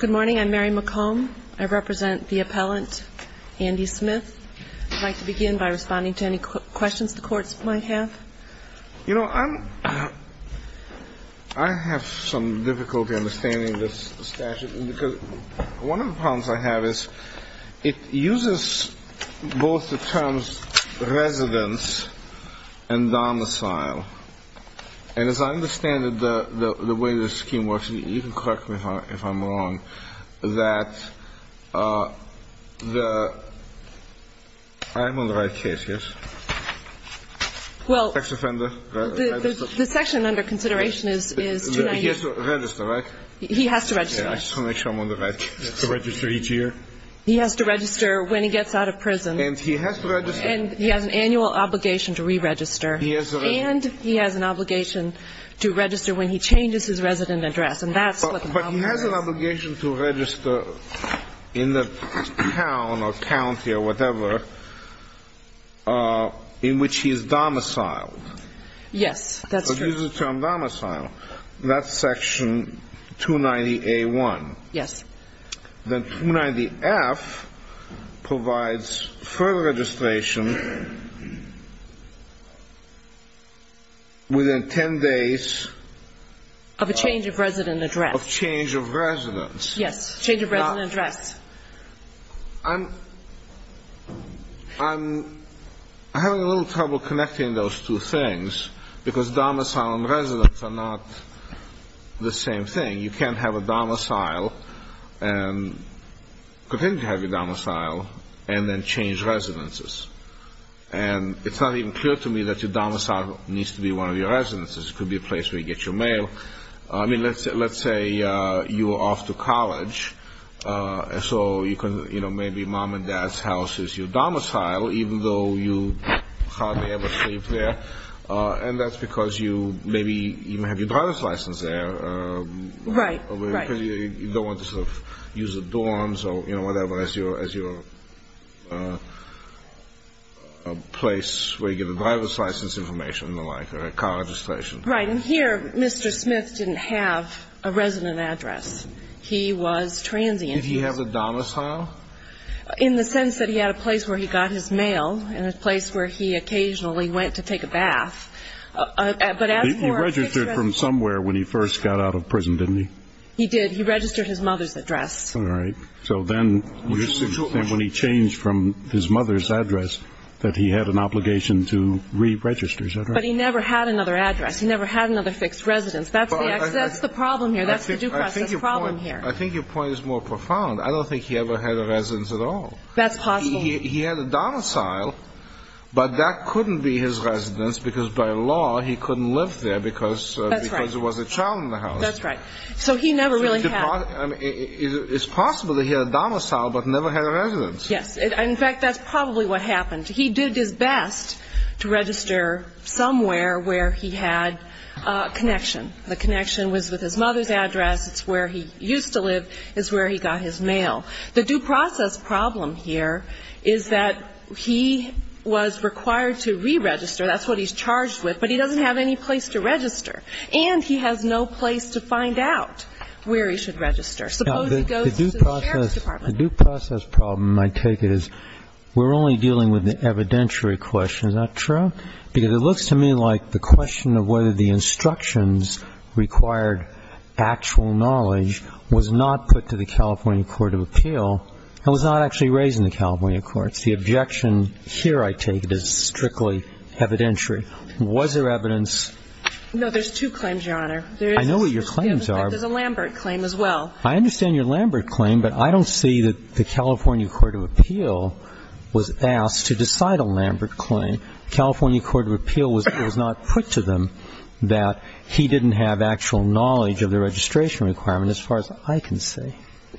Good morning. I'm Mary McComb. I represent the appellant, Andy Smith. I'd like to begin by responding to any questions the courts might have. You know, I have some difficulty understanding this statute because one of the problems I have is that I don't understand the way the scheme works. You can correct me if I'm wrong, that the – I'm on the right case, yes? Sex offender, right? Well, the section under consideration is 298. He has to register, right? He has to register, yes. I just want to make sure I'm on the right case. He has to register each year? He has to register when he gets out of prison. And he has to register – And he has an annual obligation to re-register. He has to register – To register when he changes his resident address. And that's what the problem is. But he has an obligation to register in the town or county or whatever in which he is domiciled. Yes, that's true. So this is termed domicile. That's section 290A1. Yes. Then 290F provides further registration within 10 days – Of a change of resident address. Of change of residence. Yes, change of resident address. I'm having a little trouble connecting those two things because domicile and residence are not the same thing. You can't have a domicile and continue to have your domicile and then change residences. And it's not even clear to me that your domicile needs to be one of your residences. It could be a place where you get your mail. I mean, let's say you are off to college, so maybe mom and dad's house is your domicile, even though you hardly ever sleep there. And that's because you maybe even have your driver's license there. Right, right. You don't want to sort of use the dorms or whatever as your place where you get a driver's license information and the like, or a car registration. Right. And here, Mr. Smith didn't have a resident address. He was transient. Did he have a domicile? In the sense that he had a place where he got his mail and a place where he occasionally went to take a bath. But as for a fixed residence. He registered from somewhere when he first got out of prison, didn't he? He did. He registered his mother's address. All right. So then when he changed from his mother's address that he had an obligation to re-register, is that right? But he never had another address. He never had another fixed residence. That's the problem here. That's the due process problem here. I think your point is more profound. I don't think he ever had a residence at all. That's possible. He had a domicile, but that couldn't be his residence because by law he couldn't live there because there was a child in the house. That's right. So he never really had. It's possible that he had a domicile but never had a residence. Yes. In fact, that's probably what happened. He did his best to register somewhere where he had a connection. The connection was with his mother's address. It's where he used to live. It's where he got his mail. The due process problem here is that he was required to re-register. That's what he's charged with. But he doesn't have any place to register. And he has no place to find out where he should register. Suppose he goes to the sheriff's department. The due process problem, I take it, is we're only dealing with the evidentiary question. Is that true? Because it looks to me like the question of whether the instructions required actual knowledge was not put to the California court of appeal and was not actually raised in the California courts. The objection here, I take it, is strictly evidentiary. Was there evidence? No, there's two claims, Your Honor. I know what your claims are. There's a Lambert claim as well. I understand your Lambert claim, but I don't see that the California court of appeal was asked to decide a Lambert claim. And California court of appeal was not put to them that he didn't have actual knowledge of the registration requirement as far as I can see.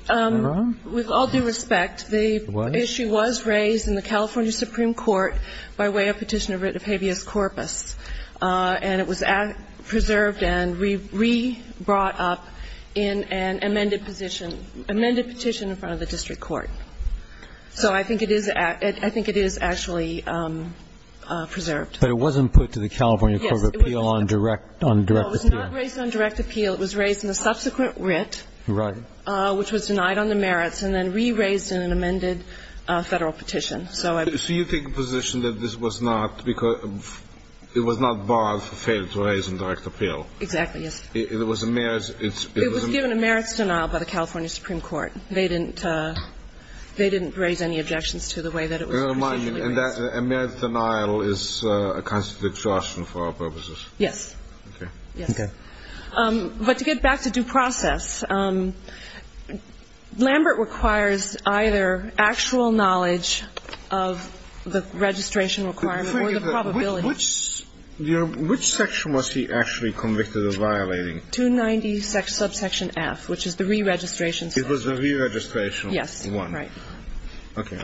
Am I wrong? With all due respect, the issue was raised in the California Supreme Court by way of petition of writ of habeas corpus. And it was preserved and re-brought up in an amended position, amended petition in front of the district court. So I think it is actually preserved. But it wasn't put to the California court of appeal on direct appeal. No, it was not raised on direct appeal. It was raised in a subsequent writ. Right. Which was denied on the merits and then re-raised in an amended Federal petition. So you take the position that this was not because it was not barred for failure to raise on direct appeal. Exactly, yes. It was a merit. It was given a merits denial by the California Supreme Court. They didn't raise any objections to the way that it was procedurally raised. And that merits denial is a kind of a distraction for our purposes. Yes. Okay. Yes. Okay. But to get back to due process, Lambert requires either actual knowledge of the registration requirement or the probability. Which section was he actually convicted of violating? 290 subsection F, which is the re-registration section. It was the re-registration one. Yes. Right. Okay.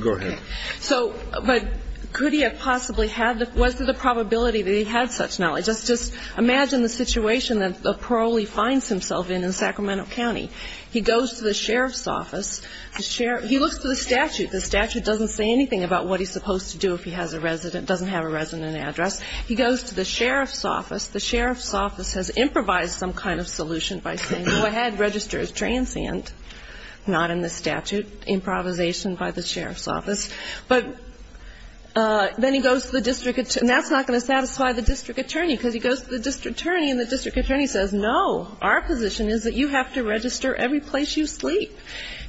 Go ahead. So, but could he have possibly had the – was there the probability that he had such knowledge? Just imagine the situation that a parolee finds himself in in Sacramento County. He goes to the sheriff's office. He looks to the statute. The statute doesn't say anything about what he's supposed to do if he has a resident, doesn't have a resident address. He goes to the sheriff's office. The sheriff's office has improvised some kind of solution by saying, go ahead, register as transient. Not in the statute. Improvisation by the sheriff's office. But then he goes to the district attorney. And that's not going to satisfy the district attorney because he goes to the district attorney and the district attorney says, no, our position is that you have to register every place you sleep.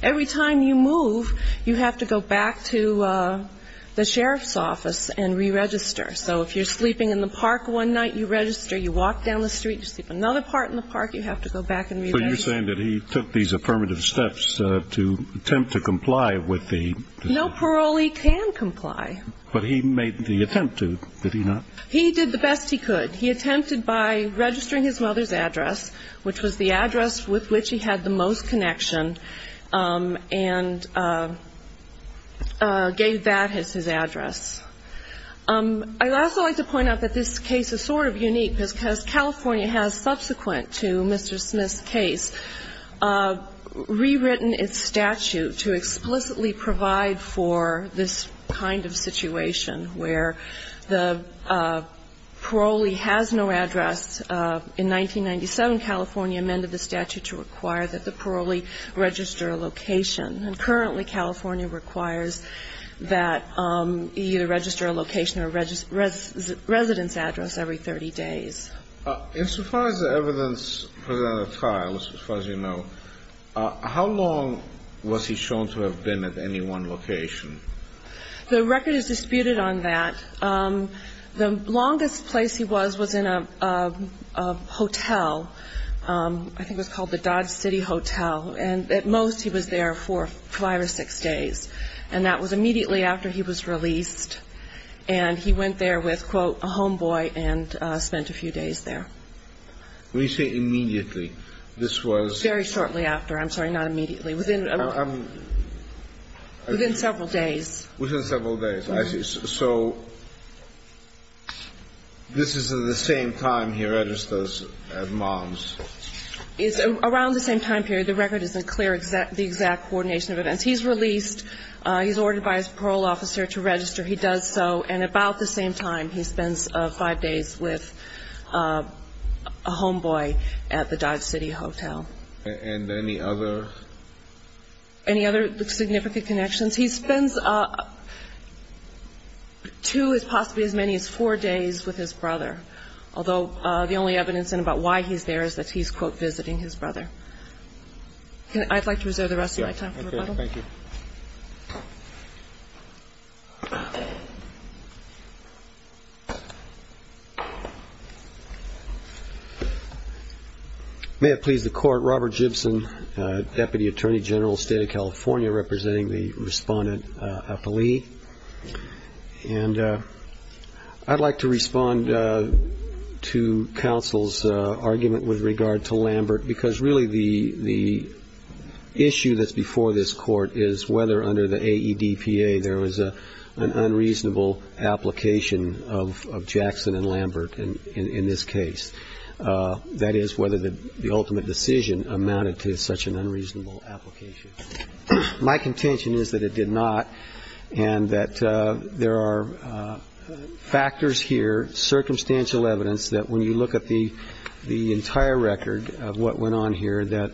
Every time you move, you have to go back to the sheriff's office and re-register. So if you're sleeping in the park one night, you register. You walk down the street, you sleep another part in the park, you have to go back and re-register. So you're saying that he took these affirmative steps to attempt to comply with the – No parolee can comply. But he made the attempt to, did he not? He did the best he could. He attempted by registering his mother's address, which was the address with which he had the most connection, and gave that as his address. I'd also like to point out that this case is sort of unique because California has, subsequent to Mr. Smith's case, rewritten its statute to explicitly provide for this kind of situation where the parolee has no address. In 1997, California amended the statute to require that the parolee register a location. And currently, California requires that he either register a location or a residence address every 30 days. And so far as the evidence presented at trial, as far as you know, how long was he shown to have been at any one location? The record is disputed on that. The longest place he was was in a hotel. I think it was called the Dodge City Hotel. And at most he was there for five or six days. And that was immediately after he was released. And he went there with, quote, a homeboy and spent a few days there. When you say immediately, this was? Very shortly after. I'm sorry, not immediately. Within several days. Within several days. I see. So this is at the same time he registers as mom's? It's around the same time period. The record isn't clear, the exact coordination of events. He's released. He's ordered by his parole officer to register. He does so. And about the same time he spends five days with a homeboy at the Dodge City Hotel. And any other? Any other significant connections? He spends two, possibly as many as four days with his brother. Although the only evidence in about why he's there is that he's, quote, visiting his brother. I'd like to reserve the rest of my time for rebuttal. Okay. Thank you. May it please the Court, Robert Gibson, Deputy Attorney General, State of California, representing the respondent, Appali. And I'd like to respond to counsel's argument with regard to Lambert, because really the issue that's before this Court is whether under the AEDPA there was an unreasonable application of Jackson and Lambert in this case, that is, whether the ultimate decision amounted to such an unreasonable application. My contention is that it did not, and that there are factors here, circumstantial evidence, that when you look at the entire record of what went on here, that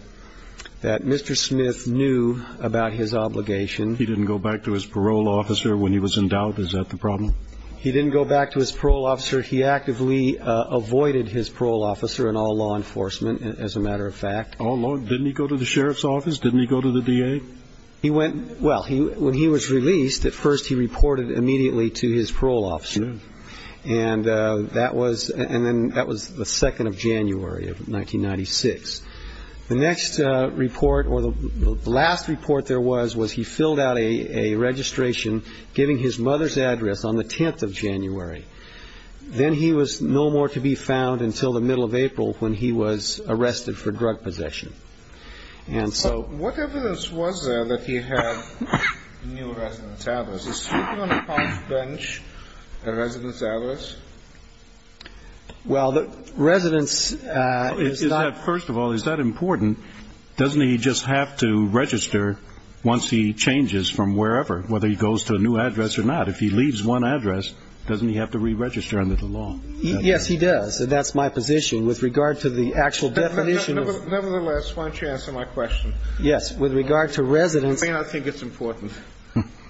Mr. Smith knew about his obligation. He didn't go back to his parole officer when he was in doubt. Is that the problem? He didn't go back to his parole officer. He actively avoided his parole officer and all law enforcement, as a matter of fact. Didn't he go to the sheriff's office? Didn't he go to the DA? Well, when he was released, at first he reported immediately to his parole officer. And that was the 2nd of January of 1996. The next report, or the last report there was, was he filled out a registration, giving his mother's address on the 10th of January. Then he was no more to be found until the middle of April when he was arrested for drug possession. And so what evidence was there that he had new residence address? Is he on a college bench, a residence address? Well, the residence is not. First of all, is that important? Doesn't he just have to register once he changes from wherever, whether he goes to a new address or not? If he leaves one address, doesn't he have to re-register under the law? Yes, he does. And that's my position with regard to the actual definition of. Nevertheless, why don't you answer my question? Yes, with regard to residence. I think it's important.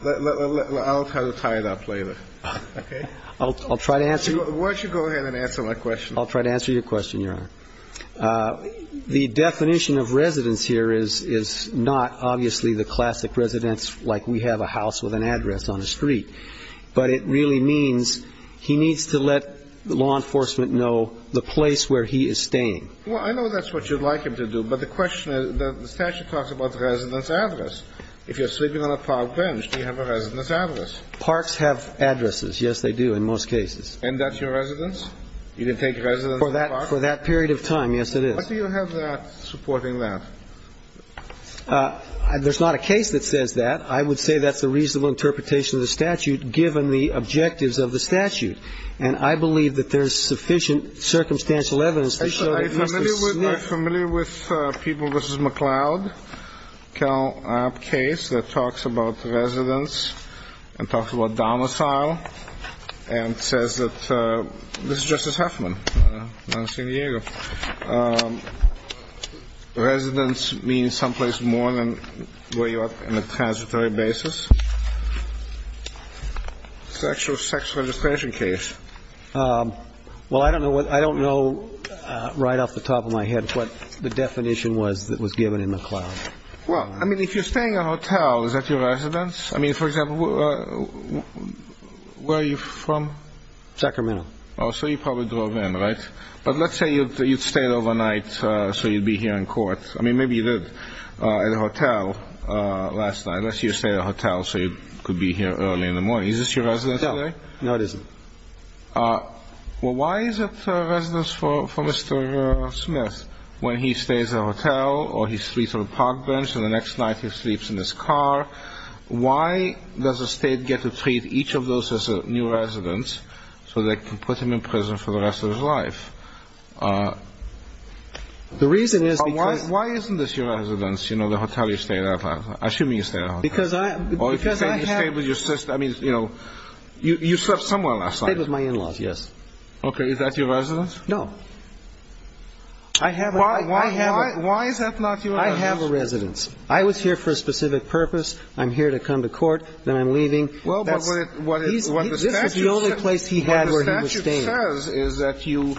I'll try to tie it up later, okay? I'll try to answer. Why don't you go ahead and answer my question? I'll try to answer your question, Your Honor. The definition of residence here is not obviously the classic residence like we have a house with an address on a street. But it really means he needs to let law enforcement know the place where he is staying. Well, I know that's what you'd like him to do. But the question is, the statute talks about residence address. If you're sleeping on a college bench, do you have a residence address? Parks have addresses. Yes, they do in most cases. And that's your residence? You can take residence in a park? For that period of time, yes, it is. Why do you have that supporting that? There's not a case that says that. I would say that's a reasonable interpretation of the statute given the objectives of the statute. And I believe that there's sufficient circumstantial evidence to show that he must have slept. I'm familiar with people. This is McCloud case that talks about residence and talks about domicile and says that this is Justice Huffman, not a San Diego. Residence means someplace more than where you are in a transitory basis. It's an actual sex registration case. Well, I don't know right off the top of my head what the definition was that was given in McCloud. Well, I mean, if you're staying in a hotel, is that your residence? I mean, for example, where are you from? Sacramento. Oh, so you probably drove in, right? But let's say you stayed overnight so you'd be here in court. I mean, maybe you did at a hotel last night. Unless you stayed at a hotel so you could be here early in the morning. Is this your residence today? No, it isn't. Well, why is it a residence for Mr. Smith when he stays at a hotel or he sleeps on a park bench and the next night he sleeps in his car? Why does the State get to treat each of those as a new residence so they can put him in prison for the rest of his life? The reason is because why isn't this your residence, you know, the hotel you stayed at last night? Assuming you stayed at a hotel. Or if you say you stayed with your sister, I mean, you know, you slept somewhere last night. I stayed with my in-laws, yes. Okay, is that your residence? No. Why is that not your residence? I have a residence. I was here for a specific purpose. I'm here to come to court, then I'm leaving. This is the only place he had where he was staying. What the statute says is that you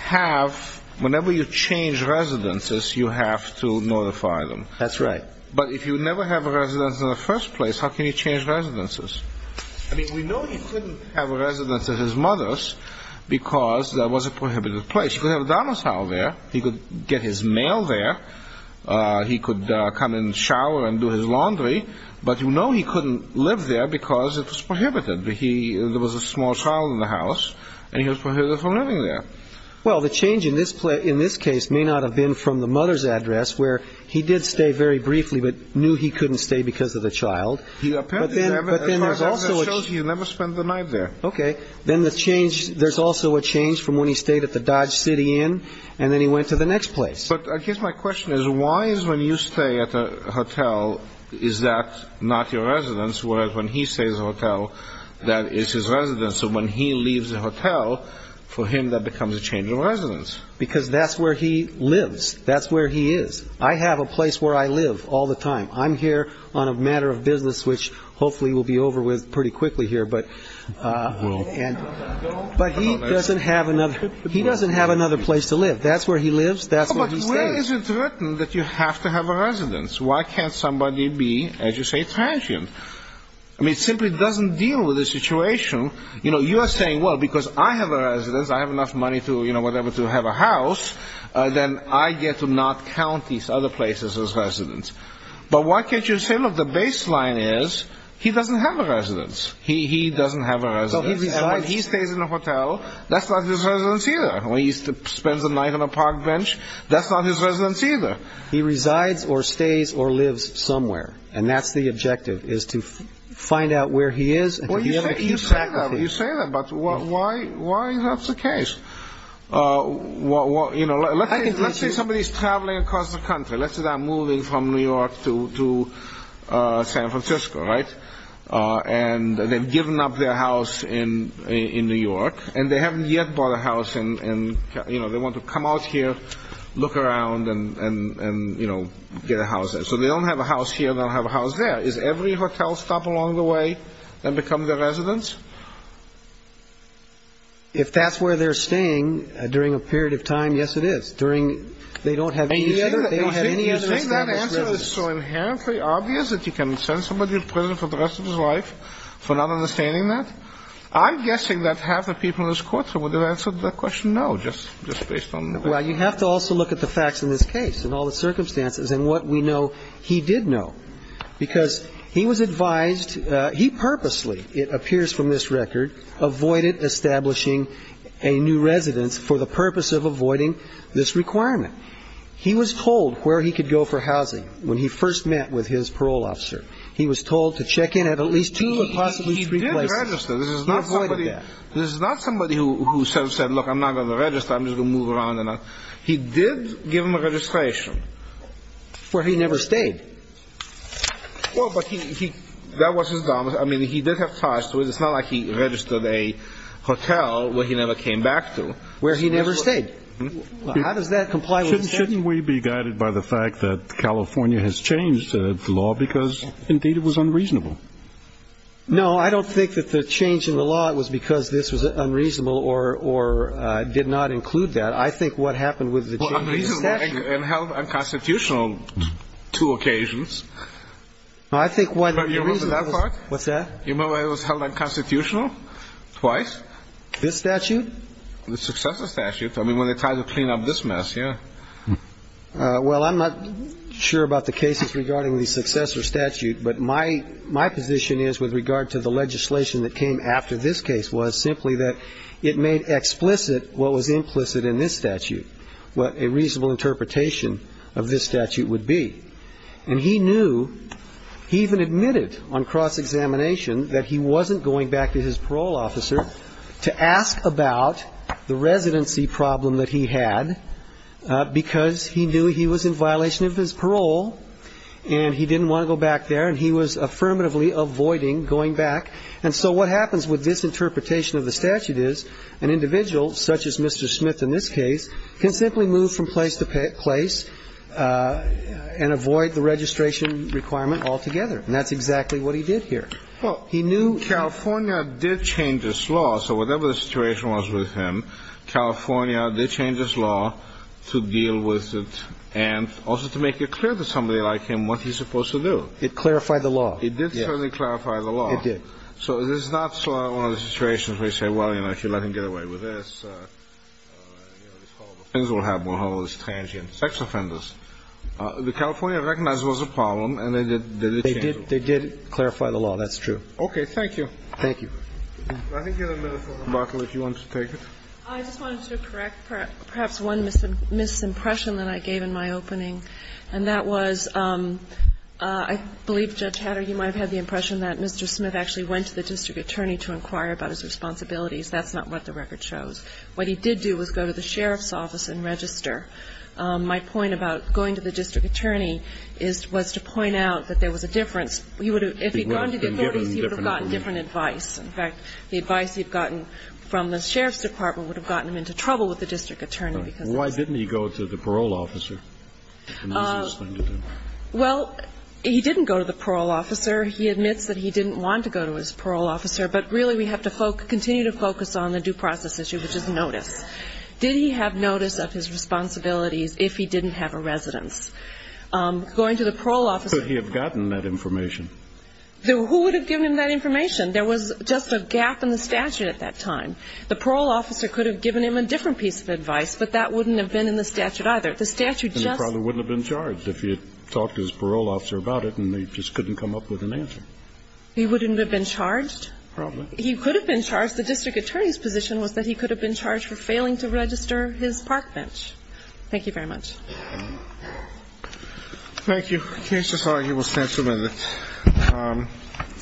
have, whenever you change residences, you have to notify them. That's right. But if you never have a residence in the first place, how can you change residences? I mean, we know he couldn't have a residence at his mother's because that was a prohibited place. He could have a domicile there. He could get his mail there. He could come and shower and do his laundry. But you know he couldn't live there because it was prohibited. There was a small child in the house, and he was prohibited from living there. Well, the change in this case may not have been from the mother's address, where he did stay very briefly but knew he couldn't stay because of the child. But then there's also a change. He never spent the night there. Okay. Then there's also a change from when he stayed at the Dodge City Inn, and then he went to the next place. But I guess my question is, why is when you stay at a hotel, is that not your residence, whereas when he stays at a hotel, that is his residence? And so when he leaves the hotel, for him that becomes a change of residence. Because that's where he lives. That's where he is. I have a place where I live all the time. I'm here on a matter of business, which hopefully we'll be over with pretty quickly here. But he doesn't have another place to live. That's where he lives. That's where he stays. But where is it written that you have to have a residence? Why can't somebody be, as you say, transient? I mean, it simply doesn't deal with the situation. You are saying, well, because I have a residence, I have enough money to have a house, then I get to not count these other places as residence. But why can't you say, look, the baseline is he doesn't have a residence. He doesn't have a residence. And when he stays in a hotel, that's not his residence either. When he spends a night on a park bench, that's not his residence either. He resides or stays or lives somewhere. And that's the objective, is to find out where he is and to be able to keep track of him. Well, you say that, but why is that the case? You know, let's say somebody is traveling across the country. Let's say they're moving from New York to San Francisco, right? And they've given up their house in New York, and they haven't yet bought a house. And, you know, they want to come out here, look around and, you know, get a house. So they don't have a house here. They don't have a house there. Is every hotel stop along the way then become their residence? If that's where they're staying during a period of time, yes, it is. During they don't have any other established residence. You think that answer is so inherently obvious that you can send somebody to prison for the rest of his life for not understanding that? I'm guessing that half the people in this courtroom would have answered that question no, just based on the facts. We have to also look at the facts in this case and all the circumstances and what we know he did know, because he was advised he purposely, it appears from this record, avoided establishing a new residence for the purpose of avoiding this requirement. He was told where he could go for housing when he first met with his parole officer. He was told to check in at at least two or possibly three places. He did register. He avoided that. This is not somebody who said, look, I'm not going to register. I'm just going to move around. He did give him a registration. Where he never stayed. Well, but that was his domicile. I mean, he did have ties to it. It's not like he registered a hotel where he never came back to, where he never stayed. How does that comply with the statute? Shouldn't we be guided by the fact that California has changed the law because, indeed, it was unreasonable? No, I don't think that the change in the law was because this was unreasonable or did not include that. I think what happened with the change in the statute. Well, unreasonable and held unconstitutional two occasions. I think what the reason was. You remember that part? What's that? You remember it was held unconstitutional twice? This statute? The successor statute. I mean, when they tried to clean up this mess, yeah. Well, I'm not sure about the cases regarding the successor statute. But my position is with regard to the legislation that came after this case was simply that it made explicit what was implicit in this statute, what a reasonable interpretation of this statute would be. And he knew, he even admitted on cross-examination that he wasn't going back to his parole officer to ask about the residency problem that he had. Because he knew he was in violation of his parole and he didn't want to go back there. And he was affirmatively avoiding going back. And so what happens with this interpretation of the statute is an individual, such as Mr. Smith in this case, can simply move from place to place and avoid the registration requirement altogether. And that's exactly what he did here. Well, he knew California did change its law. So whatever the situation was with him, California did change its law to deal with it and also to make it clear to somebody like him what he's supposed to do. It clarified the law. It did certainly clarify the law. It did. So this is not one of those situations where you say, well, you know, if you let him get away with this, things will happen with all those transient sex offenders. The California recognized it was a problem and they did change it. But it does clarify the law. That's true. Okay. Thank you. Thank you. I think you have a minute, Ms. Barkley, if you want to take it. I just wanted to correct perhaps one misimpression that I gave in my opening, and that was I believe, Judge Hatter, you might have had the impression that Mr. Smith actually went to the district attorney to inquire about his responsibilities. That's not what the record shows. What he did do was go to the sheriff's office and register. My point about going to the district attorney was to point out that there was a difference. If he had gone to the authorities, he would have gotten different advice. In fact, the advice he had gotten from the sheriff's department would have gotten him into trouble with the district attorney. Why didn't he go to the parole officer? Well, he didn't go to the parole officer. He admits that he didn't want to go to his parole officer. But really we have to continue to focus on the due process issue, which is notice. Did he have notice of his responsibilities if he didn't have a residence? Going to the parole officer. Could he have gotten that information? Who would have given him that information? There was just a gap in the statute at that time. The parole officer could have given him a different piece of advice, but that wouldn't have been in the statute either. The statute just. And he probably wouldn't have been charged if he had talked to his parole officer about it and they just couldn't come up with an answer. He wouldn't have been charged? Probably. He could have been charged. Because the district attorney's position was that he could have been charged for failing to register his park bench. Thank you very much. Thank you. Can I just argue with that for a minute?